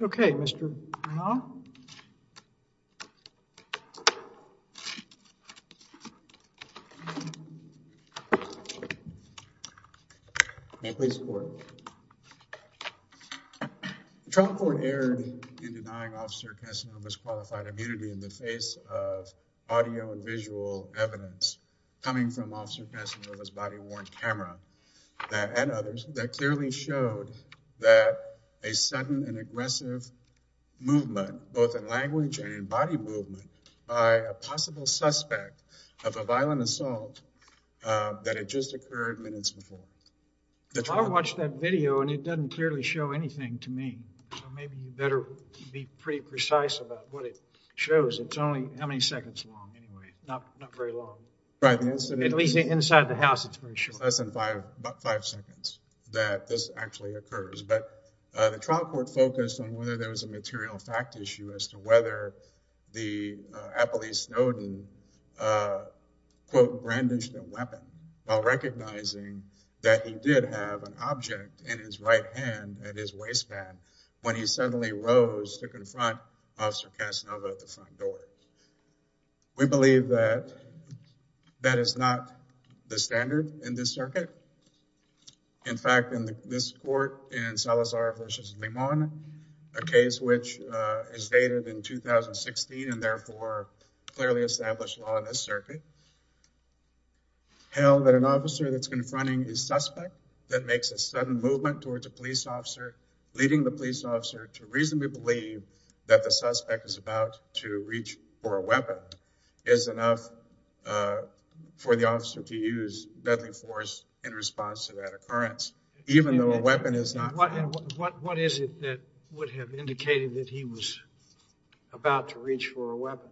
okay mr. Trump or aired in denying officer Casanova's qualified immunity in the face of audio and visual evidence coming from officer Casanova's body aggressive movement both in language and body movement by a possible suspect of a violent assault that had just occurred minutes before the trial watched that video and it doesn't clearly show anything to me maybe you better be pretty precise about what it shows it's only how many seconds long anyway not not very long right at least inside the house expression less than five five seconds that this actually occurs but the trial court focused on whether there was a material fact issue as to whether the Appley Snowden quote brandished a weapon while recognizing that he did have an object in his right hand at his waistband when he suddenly rose to confront officer Casanova at the front in fact in this court in Salazar v. Limon a case which is dated in 2016 and therefore clearly established law in this circuit held that an officer that's confronting a suspect that makes a sudden movement towards a police officer leading the police officer to reasonably believe that the suspect is about to response to that occurrence even though a weapon is not what is it that would have indicated that he was about to reach for a weapon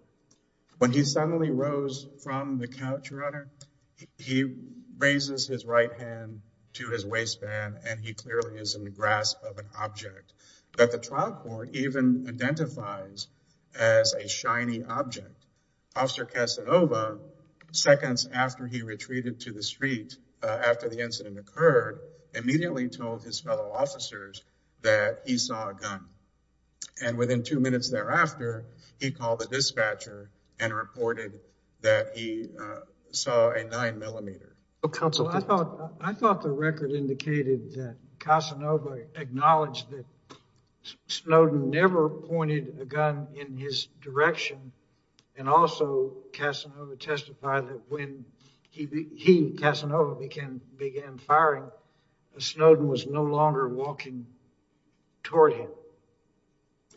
when he suddenly rose from the couch runner he raises his right hand to his waistband and he clearly is in the grasp of an object that the trial court even identifies as a shiny object officer Casanova seconds after he retreated to the street after the incident occurred immediately told his fellow officers that he saw a gun and within two minutes thereafter he called the dispatcher and reported that he saw a nine millimeter. I thought the record indicated that Casanova acknowledged that Snowden never pointed a gun in his direction and also Casanova testified that when he, Casanova, began firing Snowden was no longer walking toward him.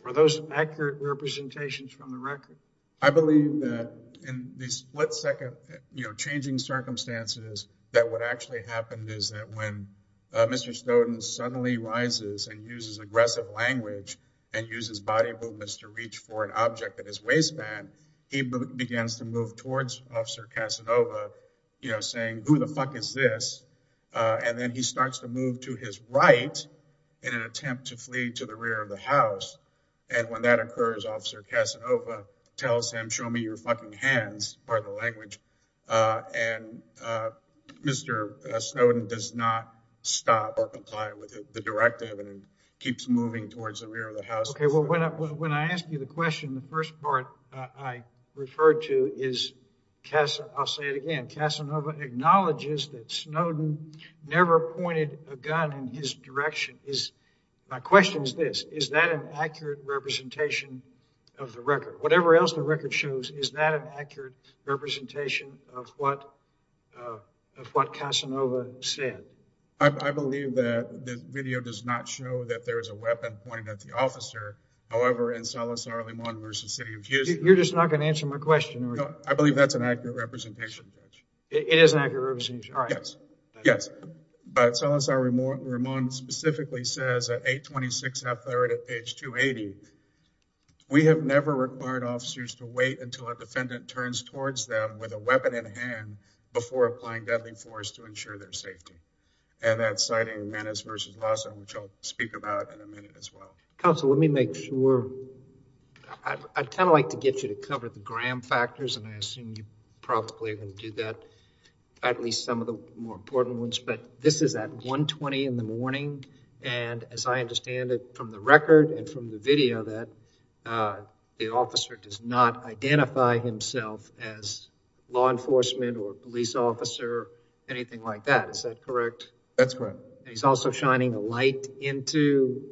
Are those accurate representations from the record? I believe that in the split second you know changing circumstances that what actually happened is that when Mr. Snowden suddenly rises and uses aggressive language and uses body movements to reach for an object at his to move towards officer Casanova you know saying who the fuck is this and then he starts to move to his right in an attempt to flee to the rear of the house and when that occurs officer Casanova tells him show me your fucking hands part of the language and Mr. Snowden does not stop or comply with the directive and keeps moving towards the rear of the house. Okay well when I ask you the question the first part I referred to is Casanova acknowledges that Snowden never pointed a gun in his direction is my question is this is that an accurate representation of the record? Whatever else the record shows is that an accurate representation of what Casanova said? I believe that the video does not show that there is a weapon pointing at the officer however in Salazar-Ramon v. City of Houston. You're just not going to answer my question? I believe that's an accurate representation. It is an accurate representation. Yes but Salazar-Ramon specifically says at 826 half-third at page 280 we have never required officers to wait until a defendant turns towards them with a weapon in hand before applying deadly force to ensure their safety and that's citing Manis v. Lawson which I'll speak about in a minute as well. Counsel let me make sure I'd kind of like to get you to cover the gram factors and I assume you probably can do that at least some of the more important ones but this is at 120 in the morning and as I understand it from the record and from the video that the officer does not identify himself as law enforcement or a police officer anything like that is that correct? That's correct. He's also shining a light into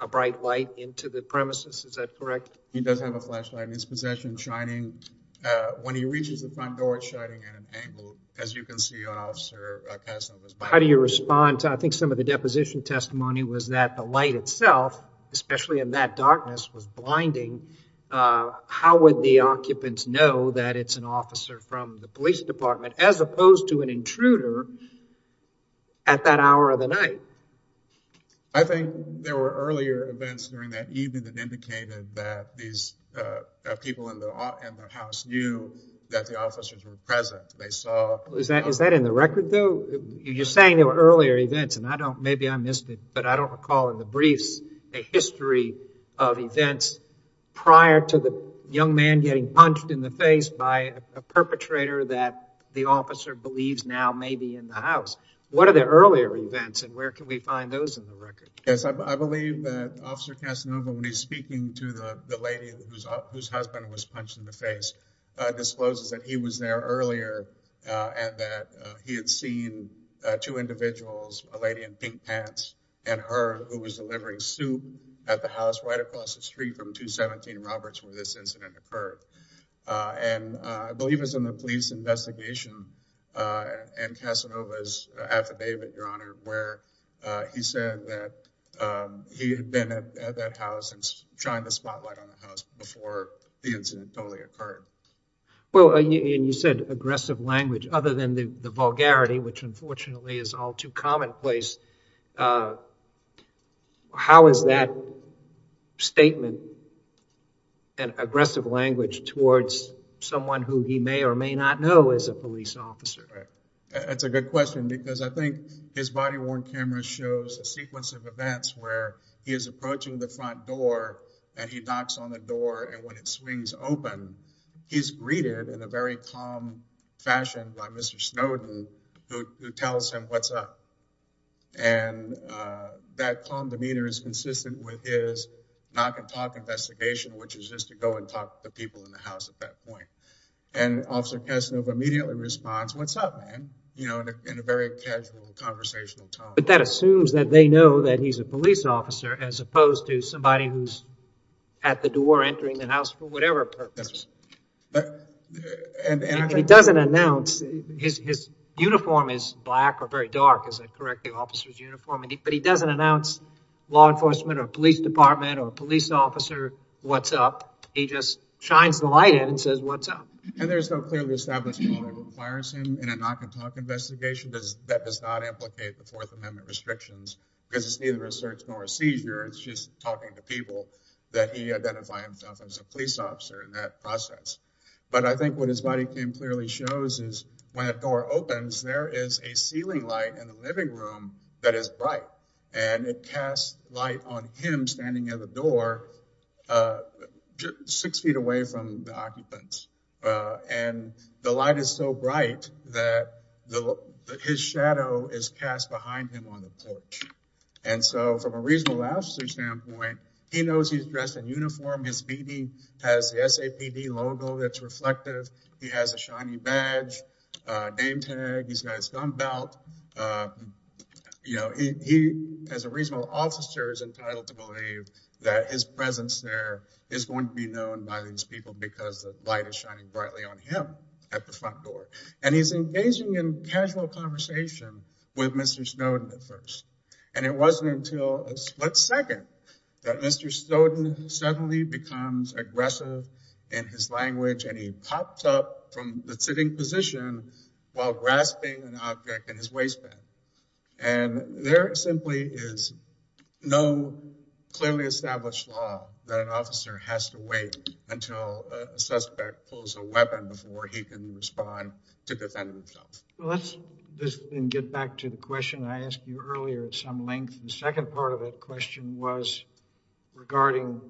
a bright light into the premises is that correct? He does have a flashlight in his possession shining when he reaches the front door it's shining at an angle as you can see. How do you respond? I think some of the deposition testimony was that the light itself especially in that darkness was blinding. How would the occupants know that it's an officer from the police department as opposed to an intruder at that hour of the night? I think there were earlier events during that evening that indicated that these people in the house knew that the officers were present. Is that in the record though? You're saying there were earlier events and I don't maybe I missed it but I don't recall in the briefs a history of events prior to the perpetrator that the officer believes now may be in the house. What are the earlier events and where can we find those in the record? Yes I believe that officer Casanova when he's speaking to the lady whose husband was punched in the face discloses that he was there earlier and that he had seen two individuals a lady in pink pants and her who was delivering soup at the house right across the street from 217 Roberts where this incident occurred and I believe it was in the police investigation and Casanova's affidavit your honor where he said that he had been at that house and trying to spotlight on the house before the incident totally occurred. Well you said aggressive language other than the vulgarity which unfortunately is all too statement and aggressive language towards someone who he may or may not know as a police officer. That's a good question because I think his body-worn camera shows a sequence of events where he is approaching the front door and he knocks on the door and when it swings open he's greeted in a very calm fashion by Mr. Snowden who tells him what's up and that calm demeanor is consistent with his knock-and-talk investigation which is just to go and talk to the people in the house at that point and officer Casanova immediately responds what's up man you know in a very casual conversational tone. But that assumes that they know that he's a police officer as opposed to somebody who's at the door entering the house for whatever purpose. He doesn't announce his uniform is black or very dark as a corrective officers uniform but he doesn't announce law enforcement or police department or police officer what's up he just shines the light and says what's up. And there's no clear establishment that requires him in a knock-and-talk investigation that does not implicate the Fourth Amendment restrictions because it's neither a search nor a seizure it's just talking to people that he identified himself as a police officer in that process. But I think what his body came clearly shows is when a door opens there is a ceiling light in the living room that is bright and it casts light on him standing at the door six feet away from the occupants and the light is so bright that his shadow is cast behind him on the porch. And so from a reasonable lawsuit standpoint he knows he's dressed in uniform his beanie has the SAPD logo that's reflective he has a shiny badge name tag he's got his gun belt you know he as a reasonable officer is entitled to believe that his presence there is going to be known by these people because the light is shining brightly on him at the front door. And he's engaging in casual conversation with Mr. Snowden at first and it wasn't until a split second that Mr. Snowden suddenly becomes aggressive in his language and he pops up from the sitting position while grasping an object in his waistband and there simply is no clearly established law that an officer has to wait until a suspect pulls a weapon before he can respond to defend himself. Let's get back to the question I asked you earlier at some length the second part of it question was regarding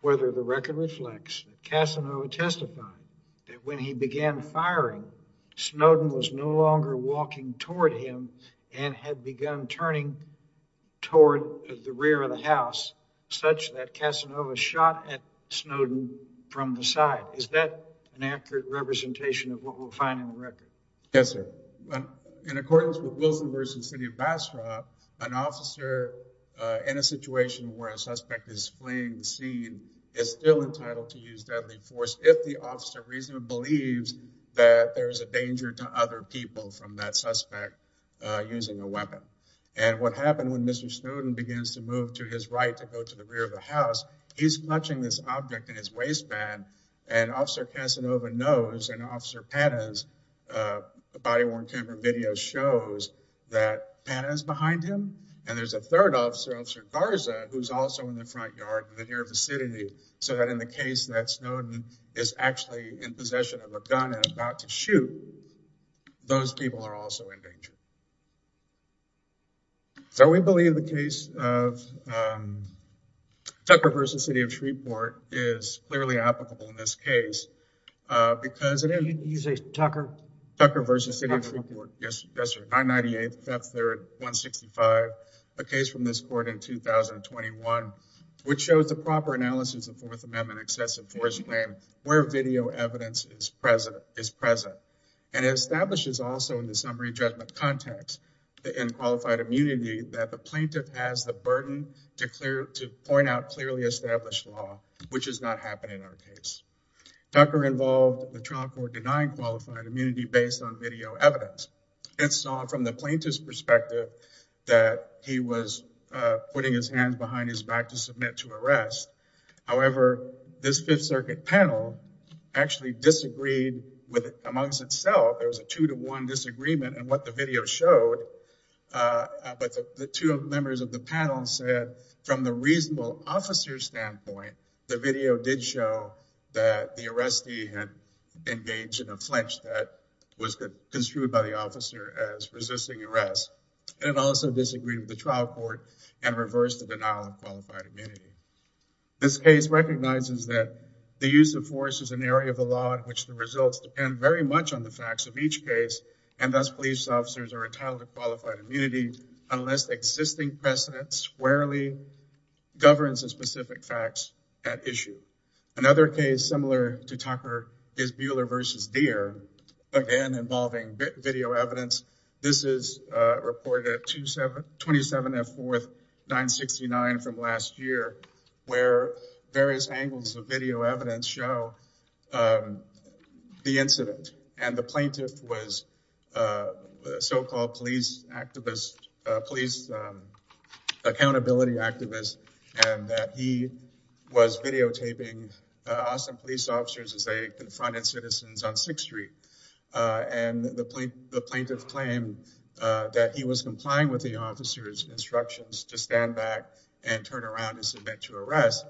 whether the record reflects Casanova testified that when he began firing Snowden was no longer walking toward him and had begun turning toward the rear of the house such that Casanova shot at Snowden from the side. Is that an accurate representation of what we'll find in the record? Yes sir. In accordance with Wilson versus City Ambassador an officer in a situation where a suspect is fleeing the scene is still entitled to use deadly force if the officer reasonably believes that there's a danger to other people from that suspect using a weapon. And what happened when Mr. Snowden begins to move to his right to go to the rear of the house he's clutching this object in his waistband and officer Casanova knows and officer Panez, a body-worn camera video, shows that Panez is behind him and there's a third officer, Officer Garza, who's also in the front yard in the near vicinity so in the case that Snowden is actually in possession of a gun and about to shoot those people are also in danger. So we believe the case of Tucker versus City of Shreveport is clearly applicable in this case because it is a Tucker Tucker versus City of Shreveport. Yes sir. 998, 5th, 3rd, 165. A case from this court in 2021 which shows the proper analysis of Fourth Amendment excessive force claim where video evidence is present and it establishes also in the summary judgment context in qualified immunity that the plaintiff has the burden to clear to point out clearly established law which does not happen in our case. Tucker involved the trial court denying qualified immunity based on video evidence. It saw from the plaintiff's perspective that he was putting his hands behind his back to submit to arrest. However, this Fifth Circuit panel actually disagreed with it amongst itself. There was a two-to-one disagreement and what the video showed but the two members of the panel said from the reasonable officer standpoint the video did show that the arrestee had engaged in a flinch that was construed by the officer as resisting arrest and also disagreed with the trial court and reversed the denial of qualified immunity. This case recognizes that the use of force is an area of the law in which the results depend very much on the facts of each case and thus police officers are entitled to qualified immunity unless existing precedence squarely governs the specific facts at issue. Another case similar to Tucker is Buehler versus Deer again involving video evidence. This is reported at 27 and 4th 969 from last year where various angles of video evidence show the incident and the plaintiff was a so-called police activist, police accountability activist and that he was videotaping Austin police officers as they confronted citizens on 6th Street and the plaintiff claimed that he was complying with the officers instructions to stand back and turn around and submit to arrest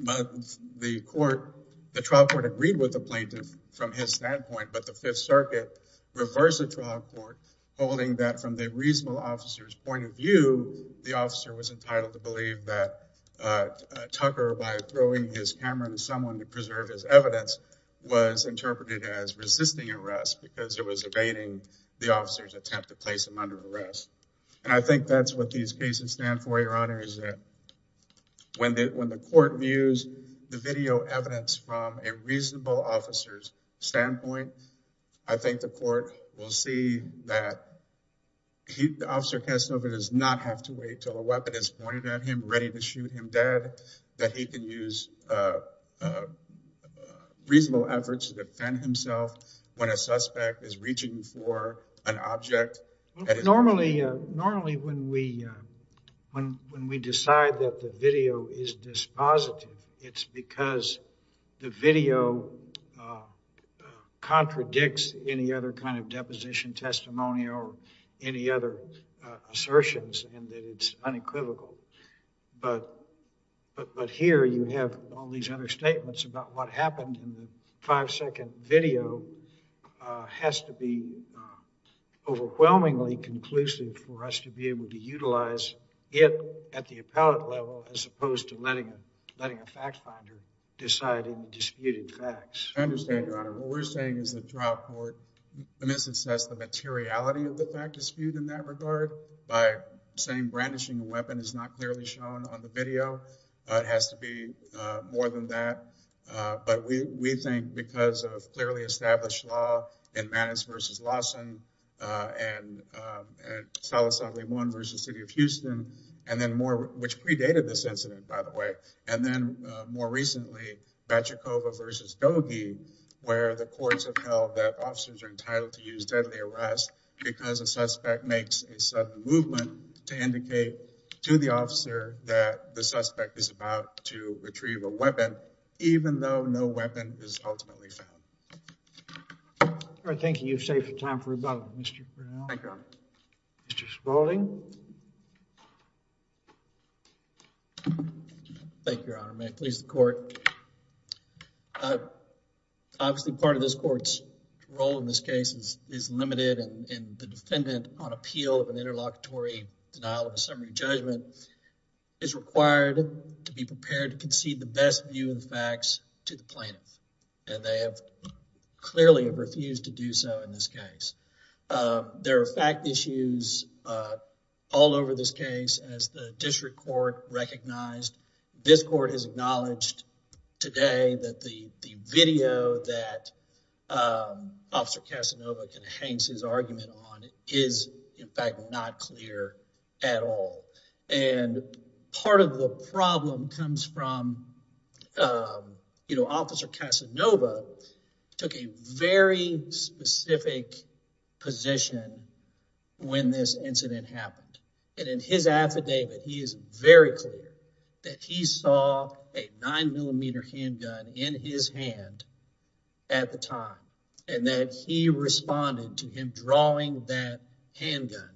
but the trial court agreed with the plaintiff from his standpoint but the Fifth Circuit reversed the trial court holding that from the reasonable officers point of view the officer was entitled to believe that was interpreted as resisting arrest because it was evading the officers attempt to place him under arrest and I think that's what these cases stand for your honor is that when the court views the video evidence from a reasonable officers standpoint I think the court will see that he the officer Kasanova does not have to wait till a weapon is pointed at him ready to shoot him dead that he can use reasonable efforts to defend himself when a suspect is reaching for an object normally normally when we when when we decide that the video is dispositive it's because the video contradicts any other kind of deposition testimony or any other assertions and that it's unequivocal but but here you have all these other statements about what happened in the five-second video has to be overwhelmingly conclusive for us to be able to utilize it at the appellate level as opposed to letting letting a fact-finder deciding disputed facts understand your honor what we're saying is the trial court in this instance the materiality of the fact is viewed in that regard by saying brandishing a weapon is not clearly shown on the video it has to be more than that but we we think because of clearly established law in Mannix versus Lawson and Salisbury one versus City of Houston and then more which predated this incident by the way and then more recently Bachecova versus Dohe where the courts have held that officers are entitled to deadly arrest because a suspect makes a sudden movement to indicate to the officer that the suspect is about to retrieve a weapon even though no weapon is ultimately found. Thank you. You've saved time for rebuttal. Mr. Spalding. Thank you, Your Honor. May it please the court. Obviously part of this court's role in this case is limited and the defendant on appeal of an interlocutory denial of a summary judgment is required to be prepared to concede the best view of the facts to the plaintiff and they have clearly refused to do so in this case. There are fact issues all over this case as the district court recognized. This Casanova can enhance his argument on is in fact not clear at all and part of the problem comes from you know officer Casanova took a very specific position when this incident happened and in his affidavit he is very clear that he saw a responding to him drawing that handgun.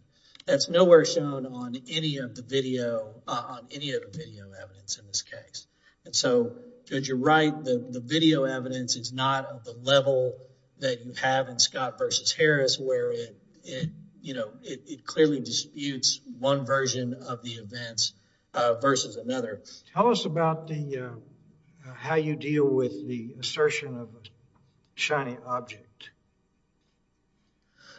That's nowhere shown on any of the video on any of the video evidence in this case and so you're right the video evidence is not of the level that you have in Scott versus Harris where it you know it clearly disputes one version of the events versus another. Tell us about the, how you deal with the assertion of a shiny object.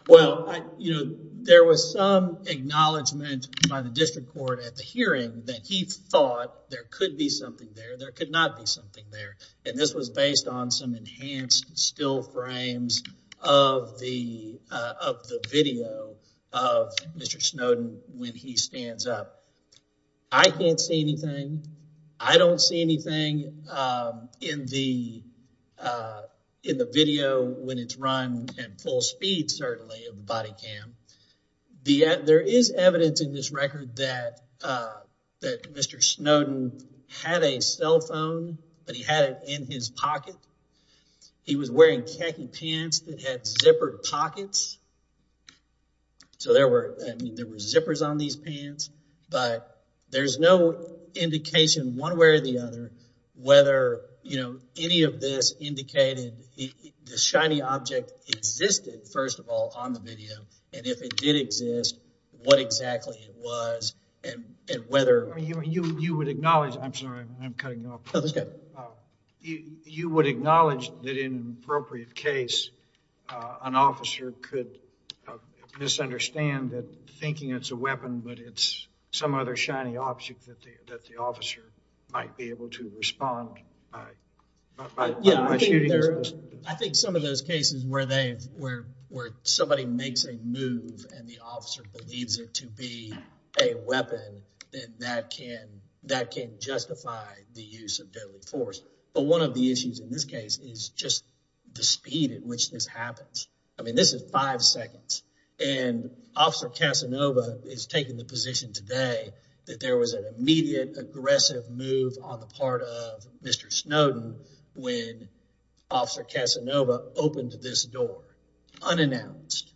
Well, you know there was some acknowledgement by the district court at the hearing that he thought there could be something there, there could not be something there and this was based on some enhanced still frames of the, of the video of Mr. Snowden when he stands up. I can't see anything, I don't see anything in the in the video when it's run at full speed certainly of the body cam. There is evidence in this record that that Mr. Snowden had a cell phone but he had it in his pocket. He was wearing khaki pants that zippered pockets so there were there were zippers on these pants but there's no indication one way or the other whether you know any of this indicated the shiny object existed first of all on the video and if it did exist what exactly it was and whether. You would acknowledge, I'm sorry I'm an officer could misunderstand that thinking it's a weapon but it's some other shiny object that the that the officer might be able to respond by. Yeah, I think there I think some of those cases where they've, where somebody makes a move and the officer believes it to be a weapon then that can that can justify the use of deadly force but one of the issues in this case is just the speed at which this happens. I mean this is five seconds and officer Casanova is taking the position today that there was an immediate aggressive move on the part of Mr. Snowden when officer Casanova opened this door unannounced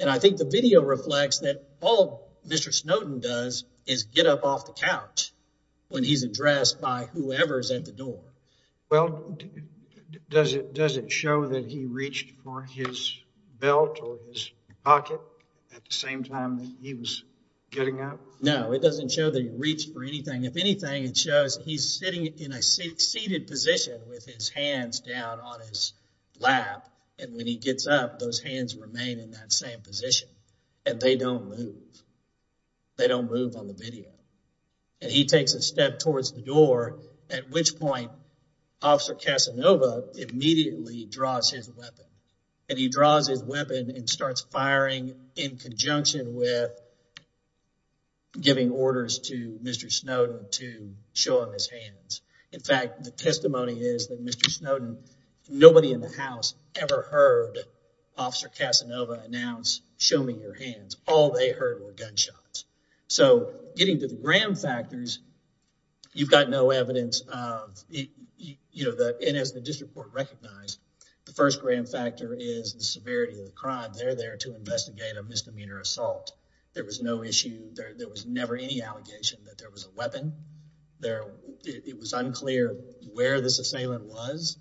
and I think the video reflects that all Mr. Snowden does is get up off the couch when he's addressed by whoever's at the door. Well does it does it show that he reached for his belt or his pocket at the same time that he was getting up? No, it doesn't show that he reached for anything. If anything it shows he's sitting in a seated position with his hands down on his lap and when he gets up those hands remain in that same position and they don't move. They don't move on the video and he takes a step towards the officer Casanova immediately draws his weapon and he draws his weapon and starts firing in conjunction with giving orders to Mr. Snowden to show him his hands. In fact the testimony is that Mr. Snowden nobody in the house ever heard officer Casanova announce show me your hands. All they heard were gunshots. So getting to the grand factors you've got no evidence of it you know that and as the district court recognized the first grand factor is the severity of the crime. They're there to investigate a misdemeanor assault. There was no issue there there was never any allegation that there was a weapon there it was unclear where the assailant was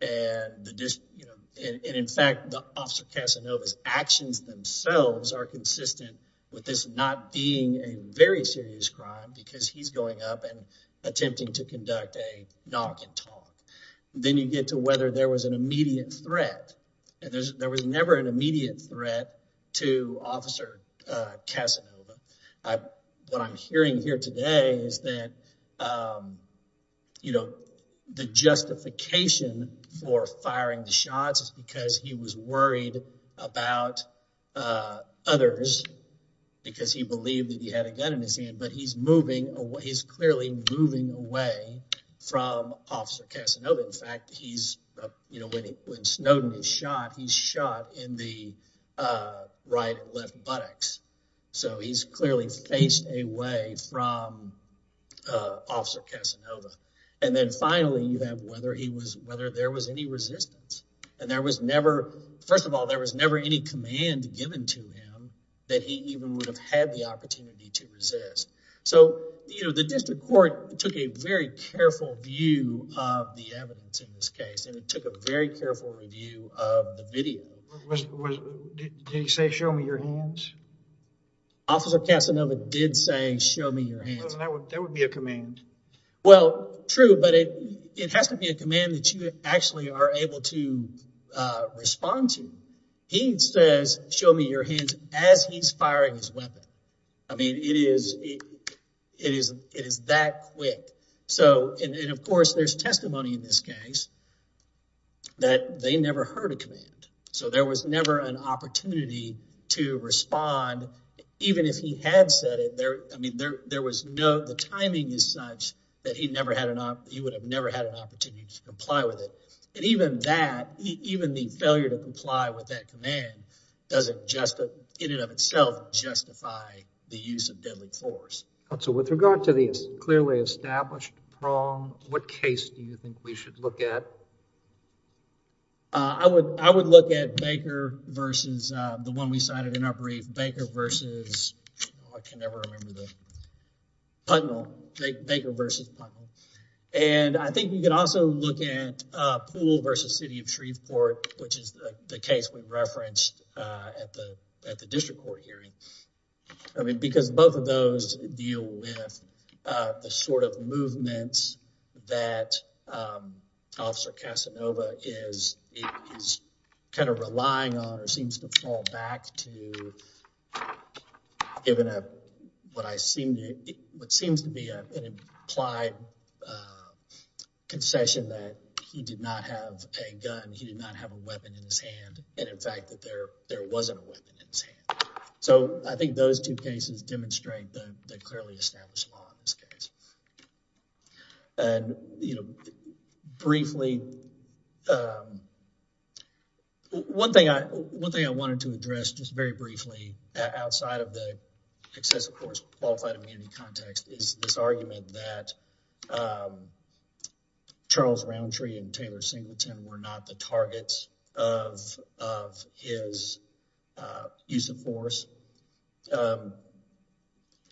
and the district and in fact the officer Casanova's actions themselves are consistent with this not being a very serious crime because he's going up and attempting to conduct a knock and talk. Then you get to whether there was an immediate threat and there's there was never an immediate threat to officer Casanova. What I'm hearing here today is that you know the justification for firing the shots because he was worried about others because he believed that he had a gun in his hand but he's moving away he's clearly moving away from officer Casanova. In fact he's you know when he when Snowden is shot he's shot in the right and left buttocks so he's clearly faced away from officer Casanova and then finally you have whether he was whether there was any resistance and there was never first of all there was never any command given to him that he even would have had the opportunity to resist. So you know the district court took a very careful view of the evidence in this case and it took a very careful review of the video. Did he say show me your hands? Officer Casanova did say show me your hands. That would be a command. Well true but it it has to be a command that you actually are able to respond to. He says show me your hands as he's firing his weapon. I mean it is it is it is that quick so and of course there's testimony in this case that they never heard a command so there was never an opportunity to respond even if he had said it there I mean there there was no the timing is such that he never had enough he would have never had an opportunity to comply with it and even that even the failure to comply with that command doesn't just in and of itself justify the use of deadly force. So with regard to the clearly established prong what case do you think we should look at? I would I would look at Baker versus the one we cited in our brief Baker versus I can never remember the Putnam. Baker versus Putnam and I think you could also look at Poole versus City of Shreveport which is the case we referenced at the at the district court hearing. I mean because both of those deal with the sort of movements that officer Casanova is is kind of relying on or seems to fall back to given a what I seem to what seems to be an implied concession that he did not have a gun he did not have a weapon in his hand and in fact that there there wasn't a weapon in his hand. So I think those two cases demonstrate the clearly established law in this case and you know briefly um one thing I one thing I wanted to address just very briefly outside of the excessive force qualified immunity context is this argument that um Charles Roundtree and Taylor Singleton were not the targets of of his use of force.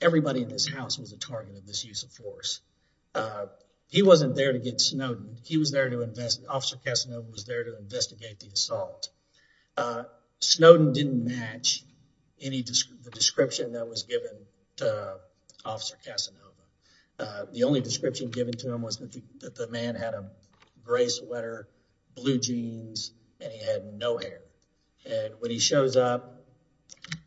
Everybody in this house was a target of this use of force. He wasn't there to get Snowden. He was there to invest officer Casanova was there to investigate the assault. Snowden didn't match any description that was given to officer Casanova. The only description given to him was that the man had a gray sweater blue jeans and he had no hair and when he shows up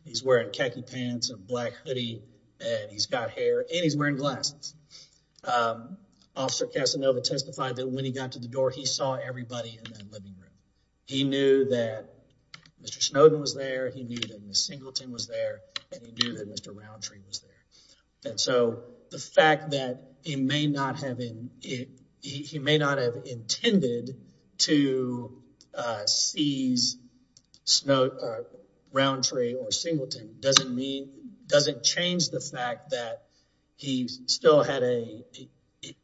he's wearing khaki pants and black hoodie and he's got hair and he's wearing glasses. Officer Casanova testified that when he got to the door he saw everybody in that living room. He knew that Mr. Snowden was there. He knew that Mr. Singleton was there and he knew that Mr. Roundtree was there and so the fact that he may not have intended to seize Roundtree or Singleton doesn't mean doesn't change the fact that he still had a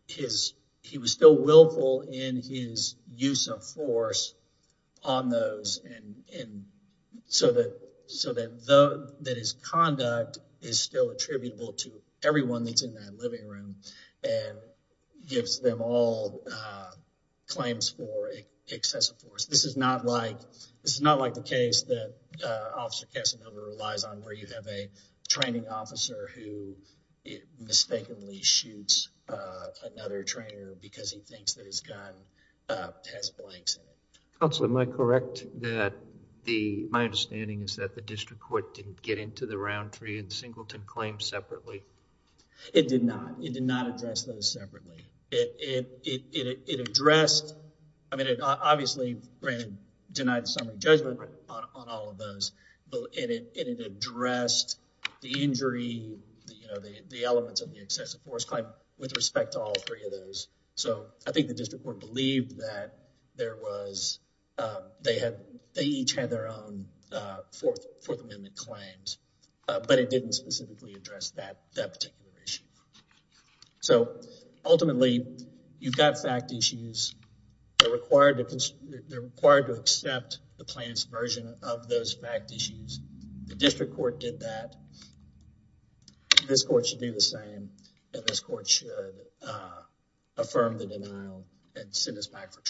his he was still willful in his use of force on those and in so that so that though that his conduct is still attributable to everyone that's in that living room and gives them all claims for excessive force. This is not like this is not like the case that officer Casanova relies on where you have a training officer who mistakenly shoots another trainer because he thinks that his gun has blanks in it. Counselor, am I correct that the my understanding is that district court didn't get into the Roundtree and Singleton claims separately? It did not. It did not address those separately. It addressed, I mean it obviously granted denied summary judgment on all of those but it addressed the injury, you know, the elements of the excessive force claim with respect to all three of those. So, I think the district court believed that there was they they each had their own fourth amendment claims but it didn't specifically address that that particular issue. So, ultimately you've got fact issues. They're required to accept the plaintiff's version of those fact issues. The district court did that. This court should do the same and this court should affirm the denial and send us back for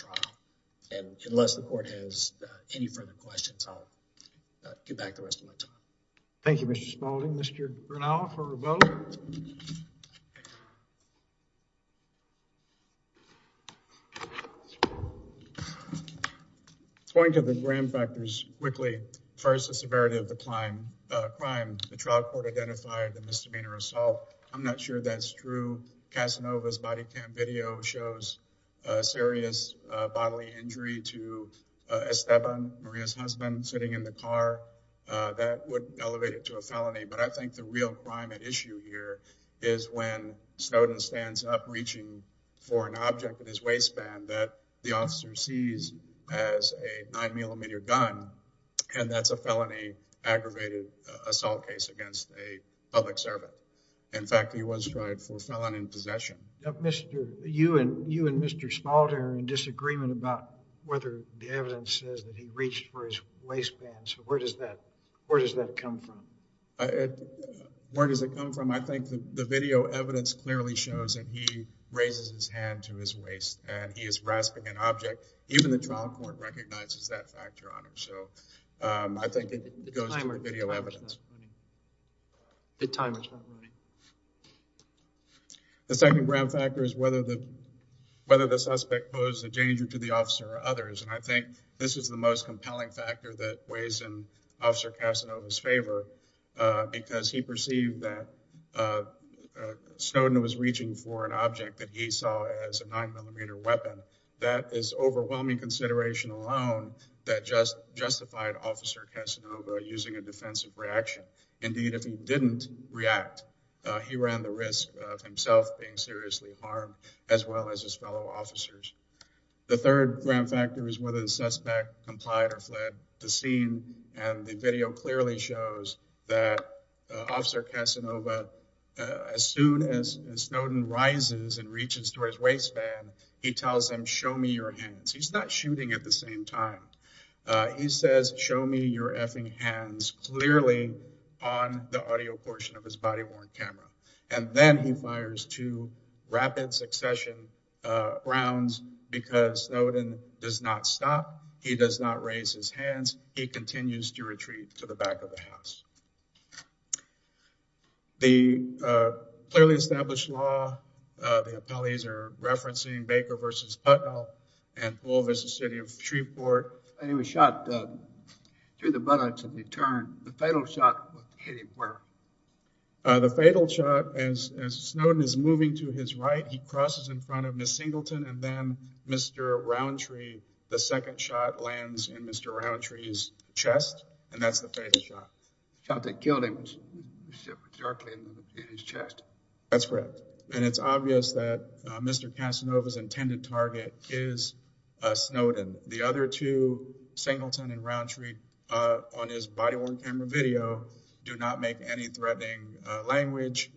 any further questions. I'll get back the rest of my time. Thank you, Mr. Spalding. Mr. Grinnell for a vote. Going to the gram factors quickly. First, the severity of the crime. The trial court identified the misdemeanor assault. I'm not sure that's true. Casanova's body cam video shows a serious bodily injury to Esteban, Maria's husband, sitting in the car. That would elevate it to a felony but I think the real crime at issue here is when Snowden stands up reaching for an object in his waistband that the officer sees as a nine millimeter gun and that's a felony aggravated assault case against a public servant. In fact, he was tried for felon in possession. You and Mr. Spalding are in disagreement about whether the evidence says that he reached for his waistband. So, where does that come from? Where does it come from? I think the video evidence clearly shows that he raises his hand to his waist and he is grasping an object. Even the trial court recognizes that so I think it goes to video evidence. The second gram factor is whether the suspect posed a danger to the officer or others and I think this is the most compelling factor that weighs in Officer Casanova's favor because he perceived that Snowden was reaching for an object that he saw as a nine millimeter weapon. That is overwhelming consideration alone that just justified Officer Casanova using a defensive reaction. Indeed, if he didn't react, he ran the risk of himself being seriously harmed as well as his fellow officers. The third gram factor is whether the suspect complied or fled the scene and the video clearly shows that Officer Casanova, as soon as Snowden rises and reaches toward his waistband, he tells them show me your hands. He's not shooting at the same time. He says show me your effing hands clearly on the audio portion of his body-worn camera and then he fires two rapid succession rounds because Snowden does not stop. He does not raise his hands. He continues to retreat to the back of the house. The clearly established law, the appellees are referencing Baker v. Huttle and Alvis, the city of Shreveport. He was shot through the buttocks and he turned. The fatal shot hit him where? The fatal shot, as Snowden is moving to his right, he crosses in front of Miss Singleton and then Mr. Roundtree. The second shot lands in Mr. Roundtree's chest and that's the fatal shot. The shot that killed him was directly in his chest. That's correct and it's obvious that Mr. Casanova's intended target is Snowden. The other two, Singleton and Roundtree, on his body-worn camera video do not make any threatening language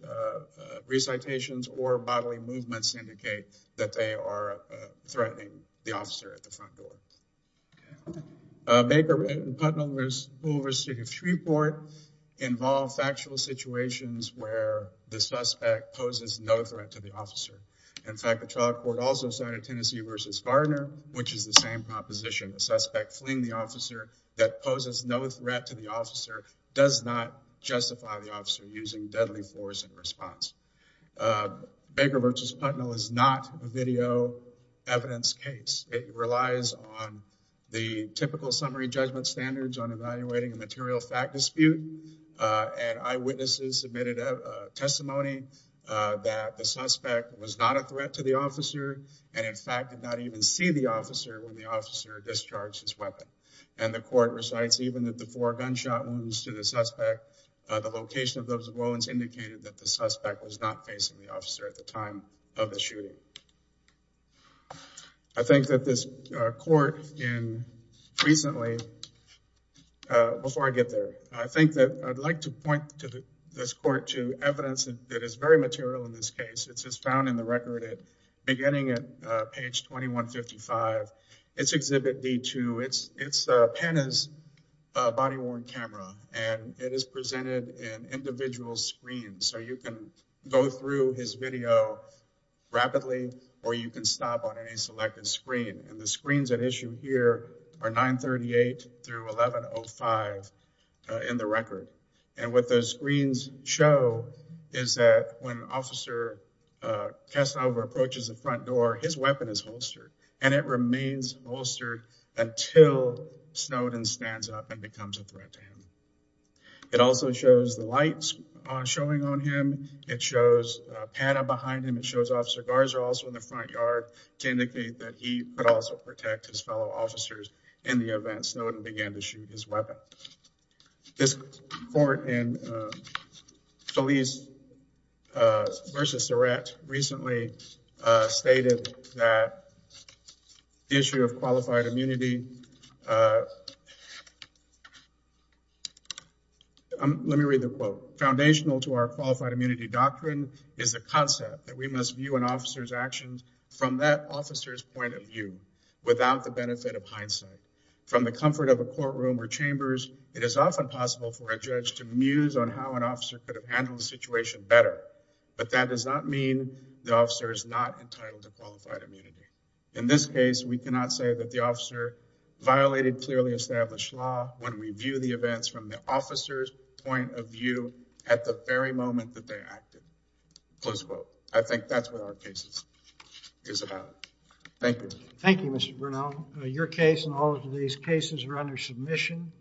recitations or bodily movements to indicate that they are threatening the officer at the front door. Baker v. Huttle and Alvis over city of Shreveport involve factual situations where the suspect poses no threat to the officer. In fact, the trial court also cited Tennessee v. Gardner, which is the same proposition. The suspect fleeing the officer that poses no threat to the officer does not justify the officer using deadly force in response. Baker v. Huttle is not a video evidence case. It relies on the typical summary judgment standards on evaluating a material fact dispute and eyewitnesses submitted a testimony that the suspect was not a threat to the officer and in fact did not even see the officer when the officer discharged his weapon. And the court recites even that the four gunshot wounds to the suspect, the location of those wounds indicated that the suspect was not the officer at the time of the shooting. I think that this court in recently, before I get there, I think that I'd like to point to this court to evidence that is very material in this case. It's just found in the record at beginning at page 2155. It's Exhibit D2. It's his video rapidly, or you can stop on any selected screen. And the screens at issue here are 938 through 1105 in the record. And what those screens show is that when Officer Casanova approaches the front door, his weapon is holstered and it remains holstered until Snowden stands up and becomes a threat to him. It also shows the lights showing on him. It shows Pata behind him. It shows Officer Garza also in the front yard to indicate that he could also protect his fellow officers in the event Snowden began to shoot his weapon. This court in Feliz versus Garza. Let me read the quote. Foundational to our qualified immunity doctrine is the concept that we must view an officer's actions from that officer's point of view without the benefit of hindsight. From the comfort of a courtroom or chambers, it is often possible for a judge to muse on how an officer could have handled the situation better. But that does not mean the officer is not entitled to qualified immunity. In this case, we cannot say that the officer violated clearly established law when we view the events from the officer's point of view at the very moment that they acted. Close quote. I think that's what our case is about. Thank you. Thank you, Mr. Bernal. Your case and all of these cases are under submission.